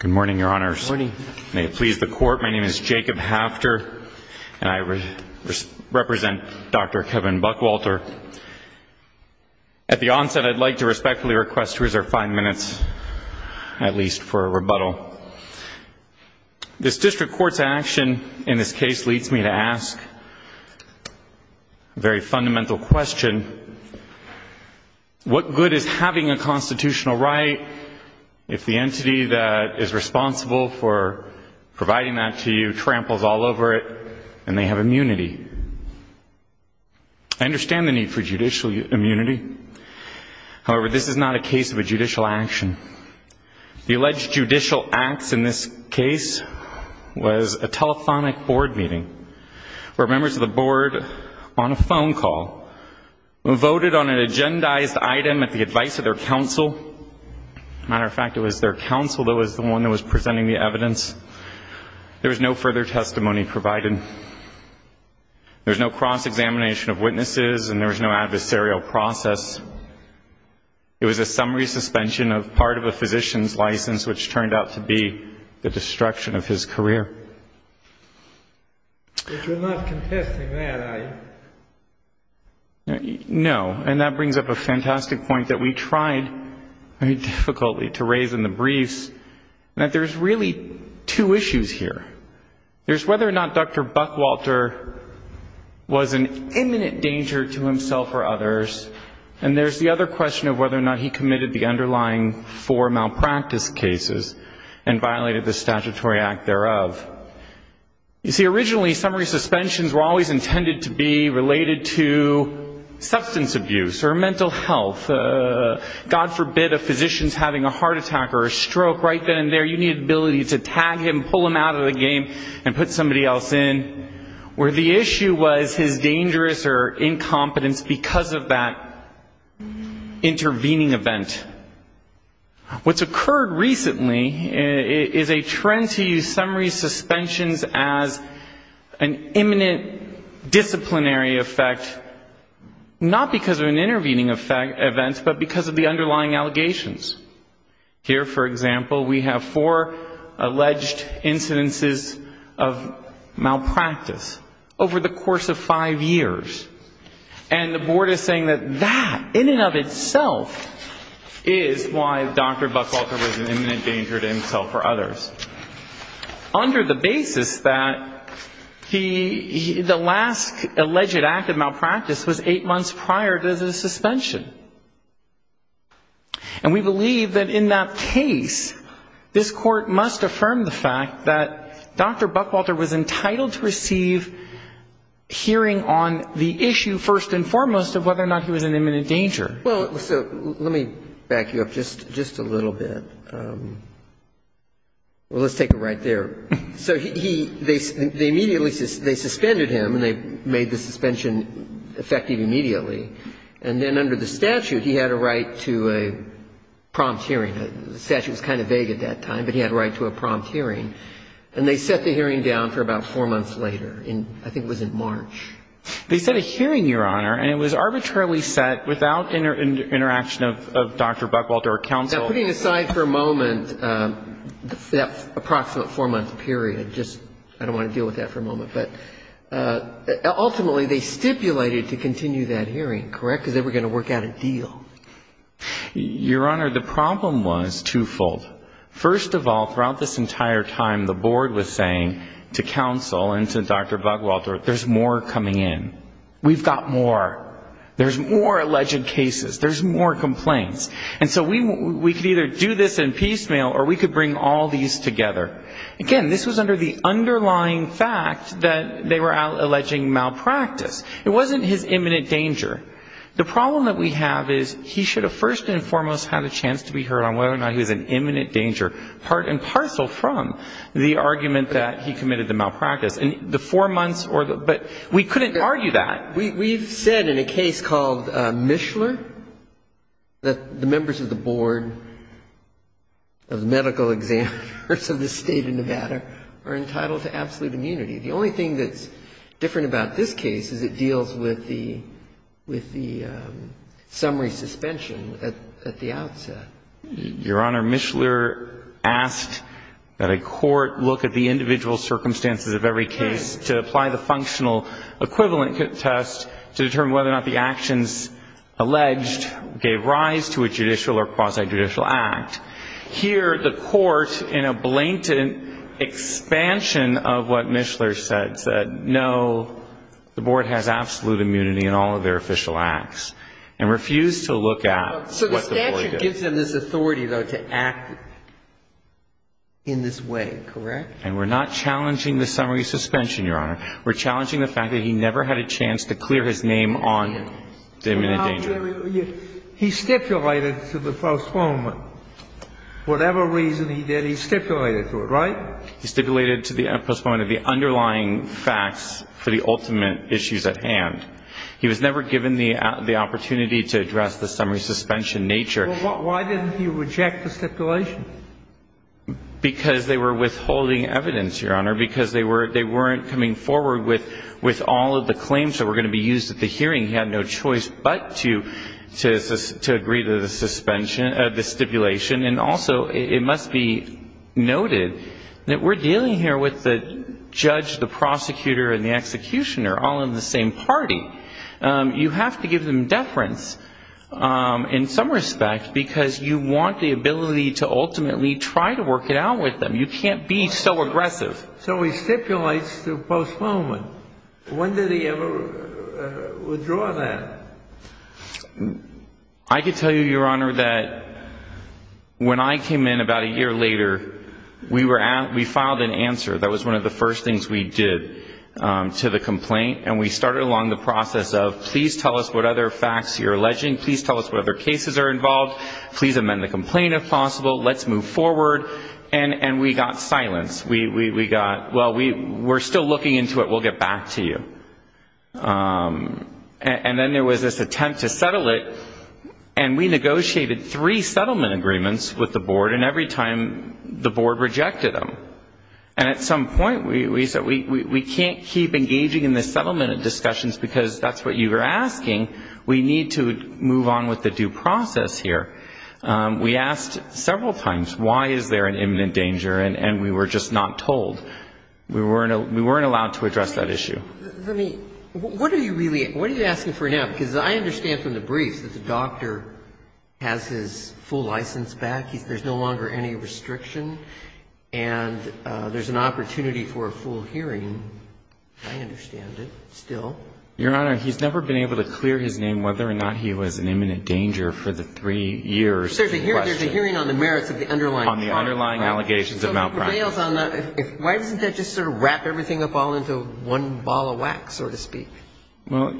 Good morning, Your Honors. May it please the Court, my name is Jacob Hafter and I represent Dr. Kevin Buckwalter. At the onset, I'd like to respectfully request to reserve five minutes, at least, for a rebuttal. This District Court's action in this case leads me to ask a very responsible for providing that to you, tramples all over it, and they have immunity. I understand the need for judicial immunity. However, this is not a case of a judicial action. The alleged judicial acts in this case was a telephonic board meeting where members of the board, on a phone call, voted on an agendized item at the advice of their counsel. As a matter of fact, it was their counsel that was the one that was presenting the evidence. There was no further testimony provided. There was no cross-examination of witnesses and there was no adversarial process. It was a summary suspension of part of a physician's license which turned out to be the destruction of his career. But you're not contesting that, are you? No. And that brings up a fantastic point that we tried very difficultly to raise in the briefs, that there's really two issues here. There's whether or not Dr. Buckwalter was an imminent danger to himself or others, and there's the other question of whether or not he committed the underlying four malpractice cases and violated the statutory act thereof. You see, originally, summary suspensions were always intended to be related to substance abuse or mental health. God forbid a physician's having a heart attack or a stroke right then and there, you needed the ability to tag him, pull him out of the game and put somebody else in, where the issue was his dangerous or incompetence because of that intervening event. What's occurred recently is a trend to use summary suspensions as an imminent disciplinary effect, not because of an intervening event, but because of the underlying allegations. Here for example, we have four alleged incidences of malpractice over the course of five years. And the Board is saying that that, in and of itself, is why Dr. Buckwalter was an imminent danger to himself or others, under the basis that the last alleged act of malpractice was eight months prior to the suspension. And we believe that in that case, this Court must affirm the fact that Dr. Buckwalter was entitled to receive hearing on the issue, first and foremost, of whether or not he was an imminent danger. Well, so let me back you up just a little bit. Well, let's take it right there. So he they immediately, they suspended him and they made the suspension effective immediately. And then under the statute, he had a right to a prompt hearing. The statute was kind of vague at that time, but he had a right to a prompt hearing. And they set the hearing down for about four months later, in, I think it was in March. They set a hearing, Your Honor, and it was arbitrarily set without interaction of Dr. Buckwalter or counsel. Now, putting aside for a moment that approximate four-month period, just, I don't want to deal with that for a moment. But ultimately, they stipulated to continue that hearing, correct? Because they were going to work out a deal. Your Honor, the problem was twofold. First of all, throughout this entire time, the Board was saying to counsel and to Dr. Buckwalter, there's more coming in. We've got more. There's more alleged cases. There's more complaints. And so we could either do this in piecemeal or we could bring all these together. Again, this was under the underlying fact that they were alleging malpractice. It wasn't his imminent danger. The problem that we have is he should have first and foremost had a chance to be heard on whether or not he was in imminent danger, part and parcel from the argument that he committed the malpractice. And the four months or the — but we couldn't argue that. We've said in a case called Mishler that the members of the Board of medical examiners of the State of Nevada are entitled to absolute immunity. The only thing that's different about this case is it deals with the summary suspension at the outset. Your Honor, Mishler asked that a court look at the individual circumstances of every case to apply the functional equivalent test to determine whether or not the actions alleged gave rise to a judicial or quasi-judicial act. Here, the court, in a case like Mishler, the Board has absolute immunity in all of their official acts and refused to look at what the Board did. So the statute gives them this authority, though, to act in this way, correct? And we're not challenging the summary suspension, Your Honor. We're challenging the fact that he never had a chance to clear his name on the imminent danger. He stipulated to the postponement. Whatever reason he did, he stipulated to it, right? He stipulated to the postponement of the underlying facts for the ultimate issues at hand. He was never given the opportunity to address the summary suspension nature. Well, why didn't he reject the stipulation? Because they were withholding evidence, Your Honor. Because they weren't coming forward with all of the claims that were going to be used at the hearing. He had no choice but to agree to the stipulation. And also, it must be noted that the we're dealing here with the judge, the prosecutor, and the executioner, all in the same party. You have to give them deference in some respect because you want the ability to ultimately try to work it out with them. You can't be so aggressive. So he stipulates to postponement. When did he ever withdraw that? I can tell you, Your Honor, that when I came in about a year later, we were we filed an answer. That was one of the first things we did to the complaint. And we started along the process of, please tell us what other facts you're alleging. Please tell us what other cases are involved. Please amend the complaint if possible. Let's move forward. And we got silence. We got, well, we're still looking into it. We'll get back to you. And then there was this attempt to settle it. And we negotiated three of them. And at some point, we said, we can't keep engaging in this settlement of discussions because that's what you were asking. We need to move on with the due process here. We asked several times, why is there an imminent danger? And we were just not told. We weren't allowed to address that issue. Let me, what are you really, what are you asking for now? Because I understand from the briefs that the doctor has his full license back. There's no longer any and there's an opportunity for a full hearing. I understand it still. Your Honor, he's never been able to clear his name whether or not he was an imminent danger for the three years. Sir, there's a hearing on the merits of the underlying. On the underlying allegations of malpractice. Why doesn't that just sort of wrap everything up all into one ball of wax, so to speak? Well,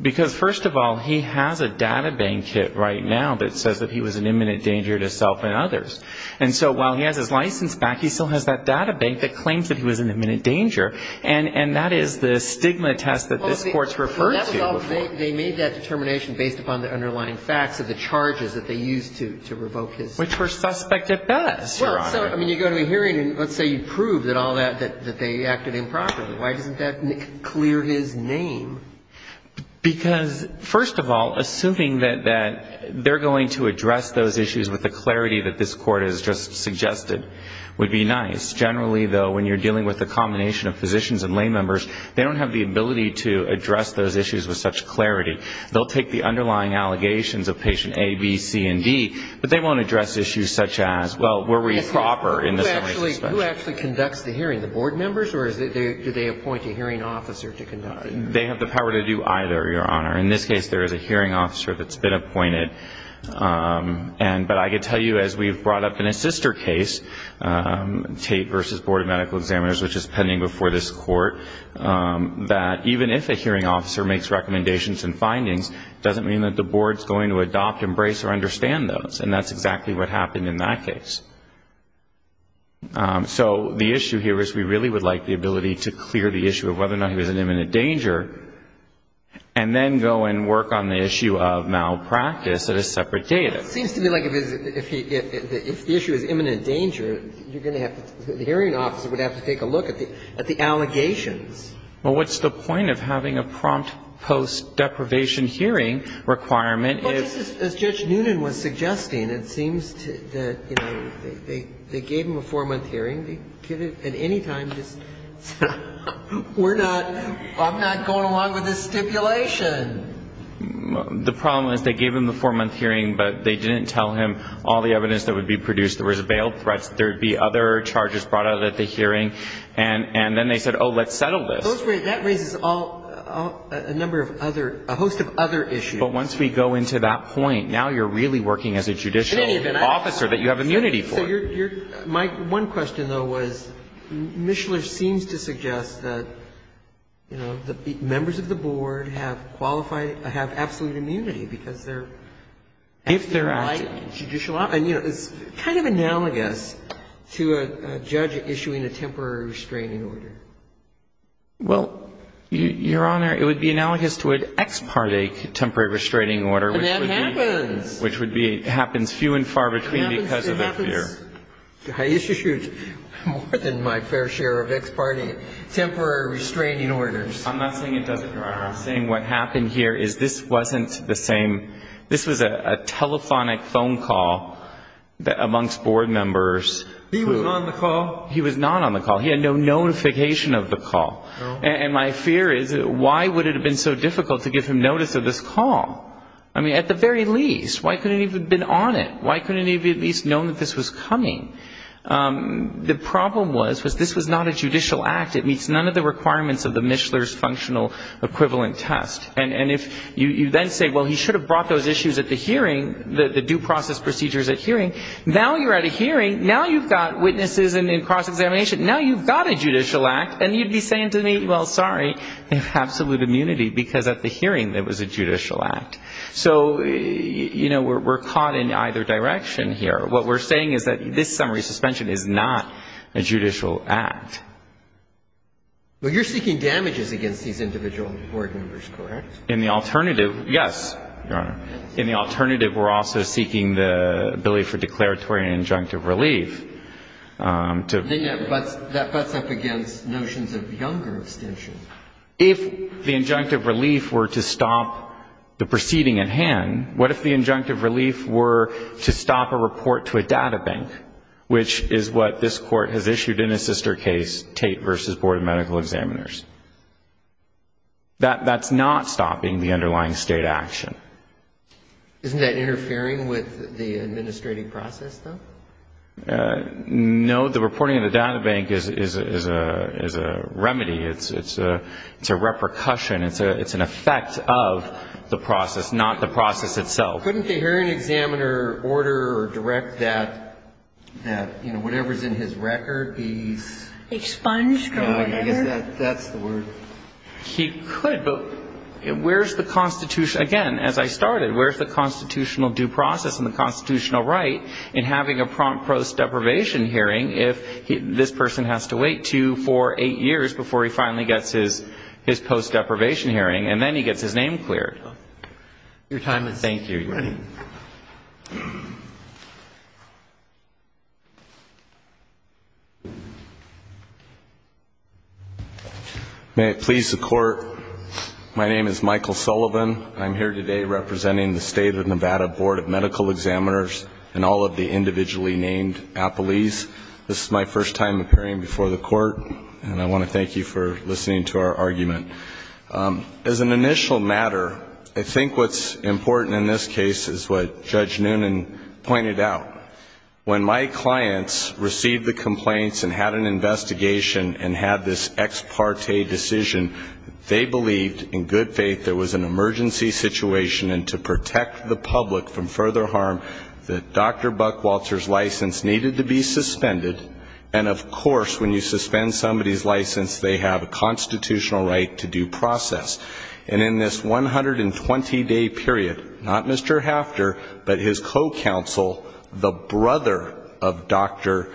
because first of all, he has a data bank kit right now that says that he was an imminent danger to self and others. And so while he has his license back, he still has that data bank that claims that he was an imminent danger. And that is the stigma test that this Court's referred to. They made that determination based upon the underlying facts of the charges that they used to revoke his. Which were suspect at best, Your Honor. Well, so, I mean, you go to a hearing and let's say you prove that all that, that they acted improperly. Why doesn't that clear his name? Because, first of all, assuming that they're going to address those issues with the clarity that this Court has just suggested, would be an It would be nice. Generally, though, when you're dealing with a combination of physicians and lay members, they don't have the ability to address those issues with such clarity. They'll take the underlying allegations of patient A, B, C, and D, but they won't address issues such as, well, were we proper in the summary suspect? Who actually conducts the hearing? The board members? Or do they appoint a hearing officer to conduct the hearing? They have the power to do either, Your Honor. In this case, there is a hearing officer case, Tate v. Board of Medical Examiners, which is pending before this Court. That even if a hearing officer makes recommendations and findings, it doesn't mean that the board's going to adopt, embrace, or understand those. And that's exactly what happened in that case. So, the issue here is we really would like the ability to clear the issue of whether or not he was in imminent danger, and then go and work on the issue of malpractice at a separate date. It seems to me like if the issue is imminent danger, then the board would have to take a look at the allegations. Well, what's the point of having a prompt post-deprivation hearing requirement? Well, just as Judge Noonan was suggesting, it seems that, you know, they gave him a four-month hearing. They could have at any time just said, we're not I'm not going along with this stipulation. The problem is they gave him the four-month hearing, but they didn't tell him all the evidence that would be produced. There was a bailout. There would be other charges brought out at the hearing. And then they said, oh, let's settle this. That raises a number of other, a host of other issues. But once we go into that point, now you're really working as a judicial officer that you have immunity for. My one question, though, was Mishler seems to suggest that, you know, members of the board have qualified, have absolute immunity because they're acting like judicial officers. If they're acting. And, you know, it's kind of analogous to a judge issuing a temporary restraining order. Well, Your Honor, it would be analogous to an ex parte temporary restraining order. And that happens. Which would be, happens few and far between because of their fear. I used to shoot more than my fair share of ex parte I'm not saying it doesn't, Your Honor. I'm saying what happened here is this wasn't the same. This was a telephonic phone call amongst board members. He was on the call? He was not on the call. He had no notification of the call. And my fear is, why would it have been so difficult to give him notice of this call? I mean, at the very least, why couldn't he have been on it? Why couldn't he have at least known that this was coming? The problem was, was this was not a judicial act. It meets none of the requirements of the Mishler's Functional Equivalent Test. And if you then say, well, he should have brought those issues at the hearing, the due process procedures at hearing, now you're at a hearing, now you've got witnesses in cross-examination, now you've got a judicial act, and you'd be saying to me, well, sorry, they have absolute immunity because at the hearing it was a judicial act. So, you know, we're caught in either direction here. What we're saying is that this summary suspension is not a judicial act. But you're seeking damages against these individual board members, correct? In the alternative, yes, Your Honor. In the alternative, we're also seeking the ability for declaratory and injunctive relief. But that butts up against notions of younger abstention. If the injunctive relief were to stop the proceeding at hand, what if the injunctive relief were to stop a report to a databank, which is what this Court has issued in a sister case, Tate v. Board of Medical Examiners? That's not stopping the underlying state action. Isn't that interfering with the administrative process, though? No. The reporting of the databank is a remedy. It's a repercussion. It's an effect of the process, not the process itself. Couldn't the hearing examiner order or direct that whatever's in his record be expunged or whatever? I guess that's the word. He could. But where's the Constitution? Again, as I started, where's the constitutional due process and the constitutional right in having a prompt post-deprivation hearing if this person has to wait two, four, eight years before he finally gets his post-deprivation hearing? And then he gets his name cleared. Your time is up. Thank you. May it please the Court. My name is Michael Sullivan. I'm here today representing the state of Nevada Board of Medical Examiners and all of the individually named appellees. This is my first time appearing before the Court, and I want to thank you for listening to our argument. As an initial matter, I think what's important in this case is what Judge Noonan pointed out. When my clients received the complaints and had an investigation and had this ex parte decision, they believed in good faith there was an emergency situation, and to protect the public from further harm, that Dr. Buckwalter's license needed to be suspended. And, of course, when you suspend somebody's license, they have a constitutional right to do so. They have a constitutional right to due process. And in this 120-day period, not Mr. Hafter, but his co-counsel, the brother of Dr.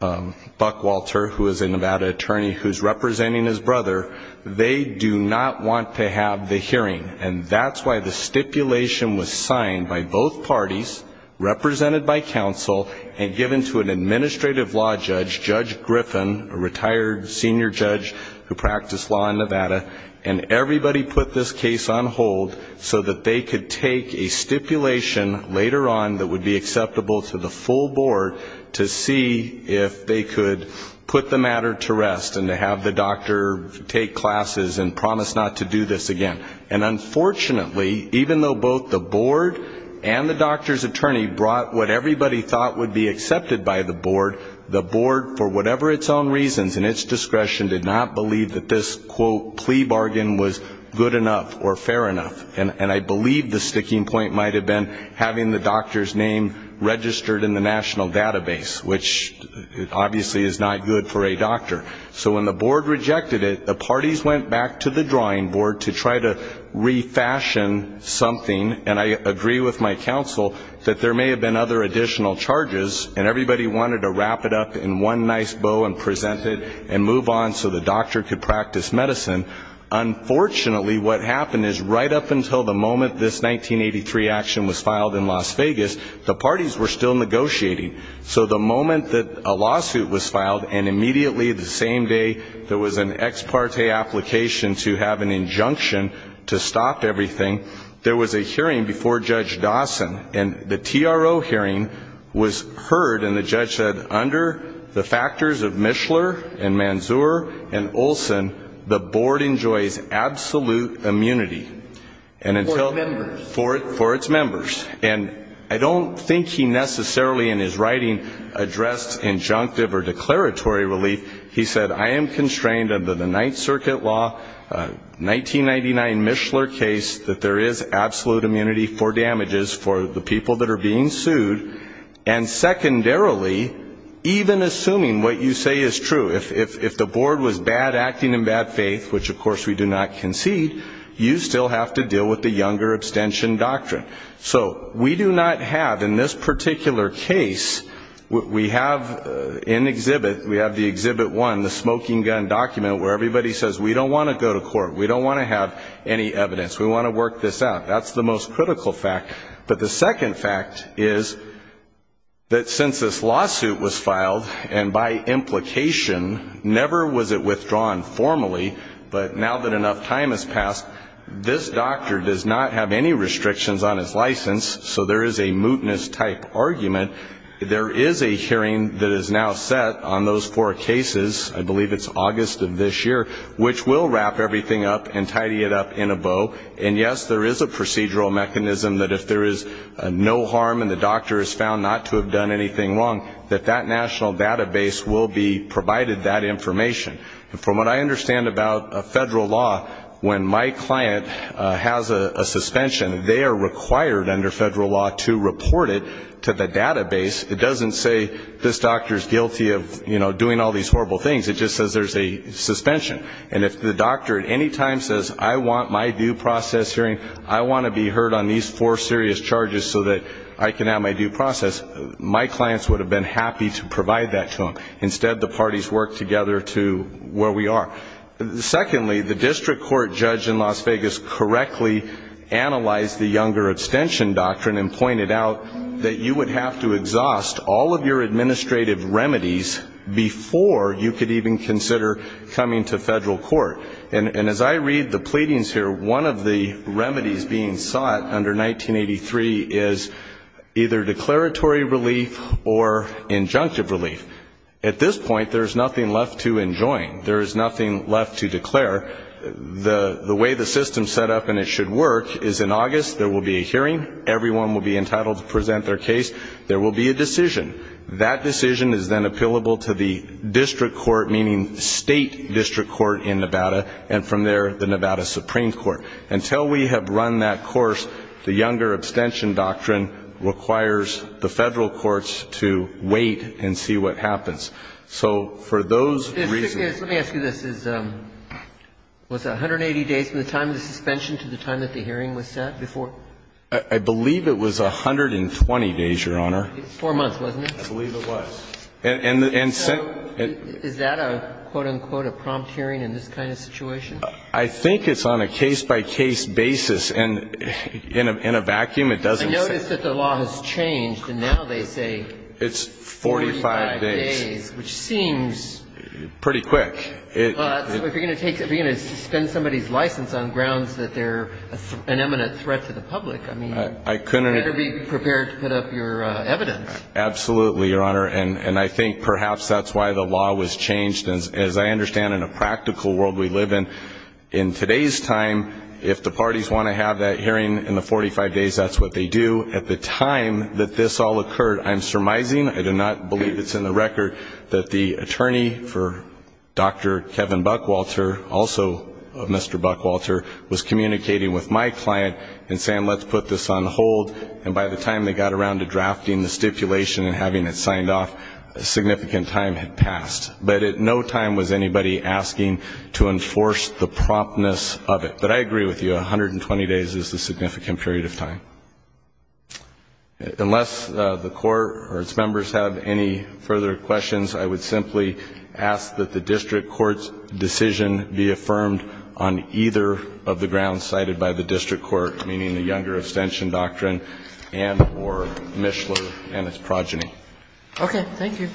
Buckwalter, who is a Nevada attorney who's representing his brother, they do not want to have the hearing. And that's why the stipulation was signed by both parties, represented by counsel, and given to an administrative law judge, Judge Griffin, a retired senior judge who practiced law in Nevada, and everybody put this case on hold so that they could take a stipulation later on that would be acceptable to the full board to see if they could put the matter to rest and to have the doctor take classes and promise not to do this again. And unfortunately, even though both the board and the doctor's attorney brought what everybody thought would be accepted by the board, the board, for whatever its own reasons and its discretion, did not believe that this, quote, plea bargain was good enough or fair enough. And I believe the sticking point might have been having the doctor's name registered in the national database, which obviously is not good for a doctor. So when the board rejected it, the parties went back to the drawing board to try to refashion something, and I agree with my counsel that there may have been other additional charges and everybody wanted to wrap it up in one nice bow and present it and move on so the doctor could practice medicine. Unfortunately, what happened is right up until the moment this 1983 action was filed in Las Vegas, the parties were still negotiating. So the moment that a lawsuit was filed and immediately the same day there was an ex parte application to have an injunction to stop everything, there was a hearing before Judge Dawson and the TRO hearing was heard and the judge said, under the factors of Mishler and Manzur and Olson, the board enjoys absolute immunity. For its members. For its members. And I don't think he necessarily in his writing addressed injunctive or declaratory relief. He said, I am constrained under the Ninth Circuit law 1999 Mishler case that there is absolute immunity for damages for the people that are being sued and secondarily, even assuming what you say is true, if the board was bad acting in bad faith, which of course we do not concede, you still have to deal with the younger abstention doctrine. So we do not have in this particular case, we have in exhibit, we have the exhibit one, the smoking gun document where everybody says we don't want to go to court. We don't want to have any evidence. We want to work this out. That's the most critical fact. But the second fact is that since this lawsuit was filed and by implication never was it withdrawn formally, but now that enough time has passed, this doctor does not have any restrictions on his license so there is a mootness type argument. There is a hearing that is now set on those four cases I believe it's August of this year which will wrap everything up and tidy it up in a bow and yes, there is a procedural mechanism that if there is no harm and the doctor is found not to have done anything wrong, that that national database will be provided that information. From what I understand about federal law, when my client has a suspension they are required under federal law to report it to the database. It doesn't say this doctor is guilty of doing all these horrible things it just says there is a suspension and if the doctor at any time says I want my due process hearing I want to be heard on these four serious charges so that I can have my due process my clients would have been happy to provide that to them instead the parties work together to where we are. Secondly, the district court judge in Las Vegas correctly analyzed the younger abstention doctrine and pointed out that you would have to exhaust all of your administrative remedies before you could even consider coming to federal court and as I read the pleadings here one of the remedies being sought under 1983 is either declaratory relief or injunctive relief at this point there is nothing left to enjoin there is nothing left to declare the way the system is set up and it should work is in August there will be a hearing everyone will be entitled to present their case there will be a decision that decision is then appealable to the district court meaning state district court in Nevada and from there the Nevada Supreme Court until we have run that course the younger abstention doctrine requires the federal courts to wait and see what happens let me ask you this was it 180 days from the time of the suspension to the time the hearing was set? I believe it was 120 days four months wasn't it? I believe it was is that a quote-unquote prompt hearing in this kind of situation? I think it's on a case-by-case basis in a vacuum I noticed that the law has changed and now they say 45 days which seems pretty quick if you're going to suspend somebody's license on grounds that they're an imminent threat to the public you better be prepared to put up your evidence absolutely your honor and I think perhaps that's why the law was changed as I understand in a practical world we live in in today's time if the parties want to have that hearing in the 45 days that's what they do at the time that this all occurred I'm surmising, I do not believe it's in the record that the attorney for Dr. Kevin Buckwalter also Mr. Buckwalter was communicating with my client and saying let's put this on hold and by the time they got around to drafting the stipulation and having it signed off a significant time had passed but at no time was anybody asking to enforce the promptness of it but I agree with you 120 days is a significant period of time unless the court or its members have any further questions I would simply ask that the district court's decision be affirmed on either of the grounds cited by the district court meaning the Younger Abstention Doctrine and or Mishler and its progeny okay thank you a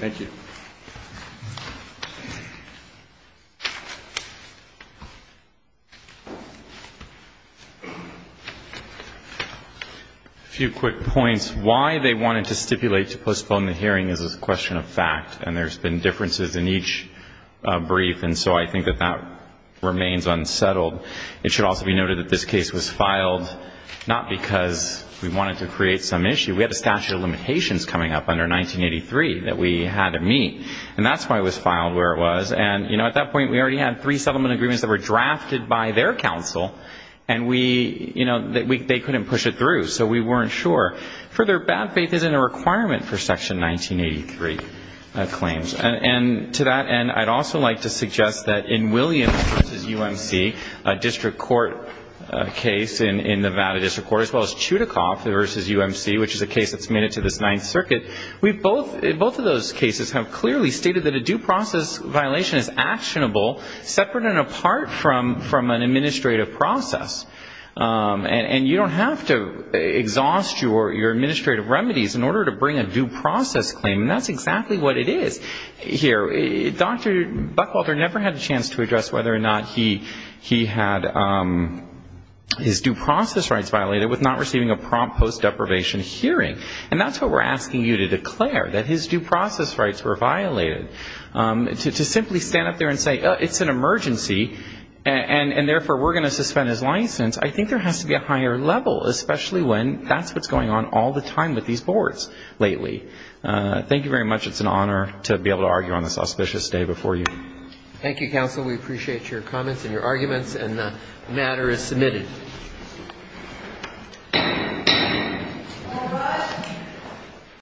few quick points why they wanted to stipulate to postpone the hearing is a question of fact and there's been differences in each brief and so I think that that remains unsettled it should also be noted that this case was filed not because we wanted to create some issue we had a statute of limitations coming up under 1983 that we had to meet and that's why it was filed where it was and at that point we already had three settlement agreements that were drafted by their counsel and they couldn't push it through so we weren't sure further bad faith isn't a requirement for section 1983 claims and to that end I'd also like to suggest that in Williams v. UMC a district court case in Nevada district court as well as Chudikoff v. UMC which is a case that's made it to this 9th circuit both of those cases have clearly stated that a due process violation is actionable separate and apart from an administrative process and you don't have to exhaust your administrative remedies in order to bring a due process claim and that's exactly what it is Dr. Buckwalter never had a chance to address whether or not he had his due process rights violated with not receiving a prompt post deprivation hearing and that's what we're asking you to declare that his due process rights were violated to simply stand up there and say it's an emergency and therefore we're going to suspend his license I think there has to be a higher level especially when that's what's going on all the time with these boards lately thank you very much it's an honor to be able to argue on this auspicious day before you. Thank you counsel we appreciate your comments and your arguments and the matter is submitted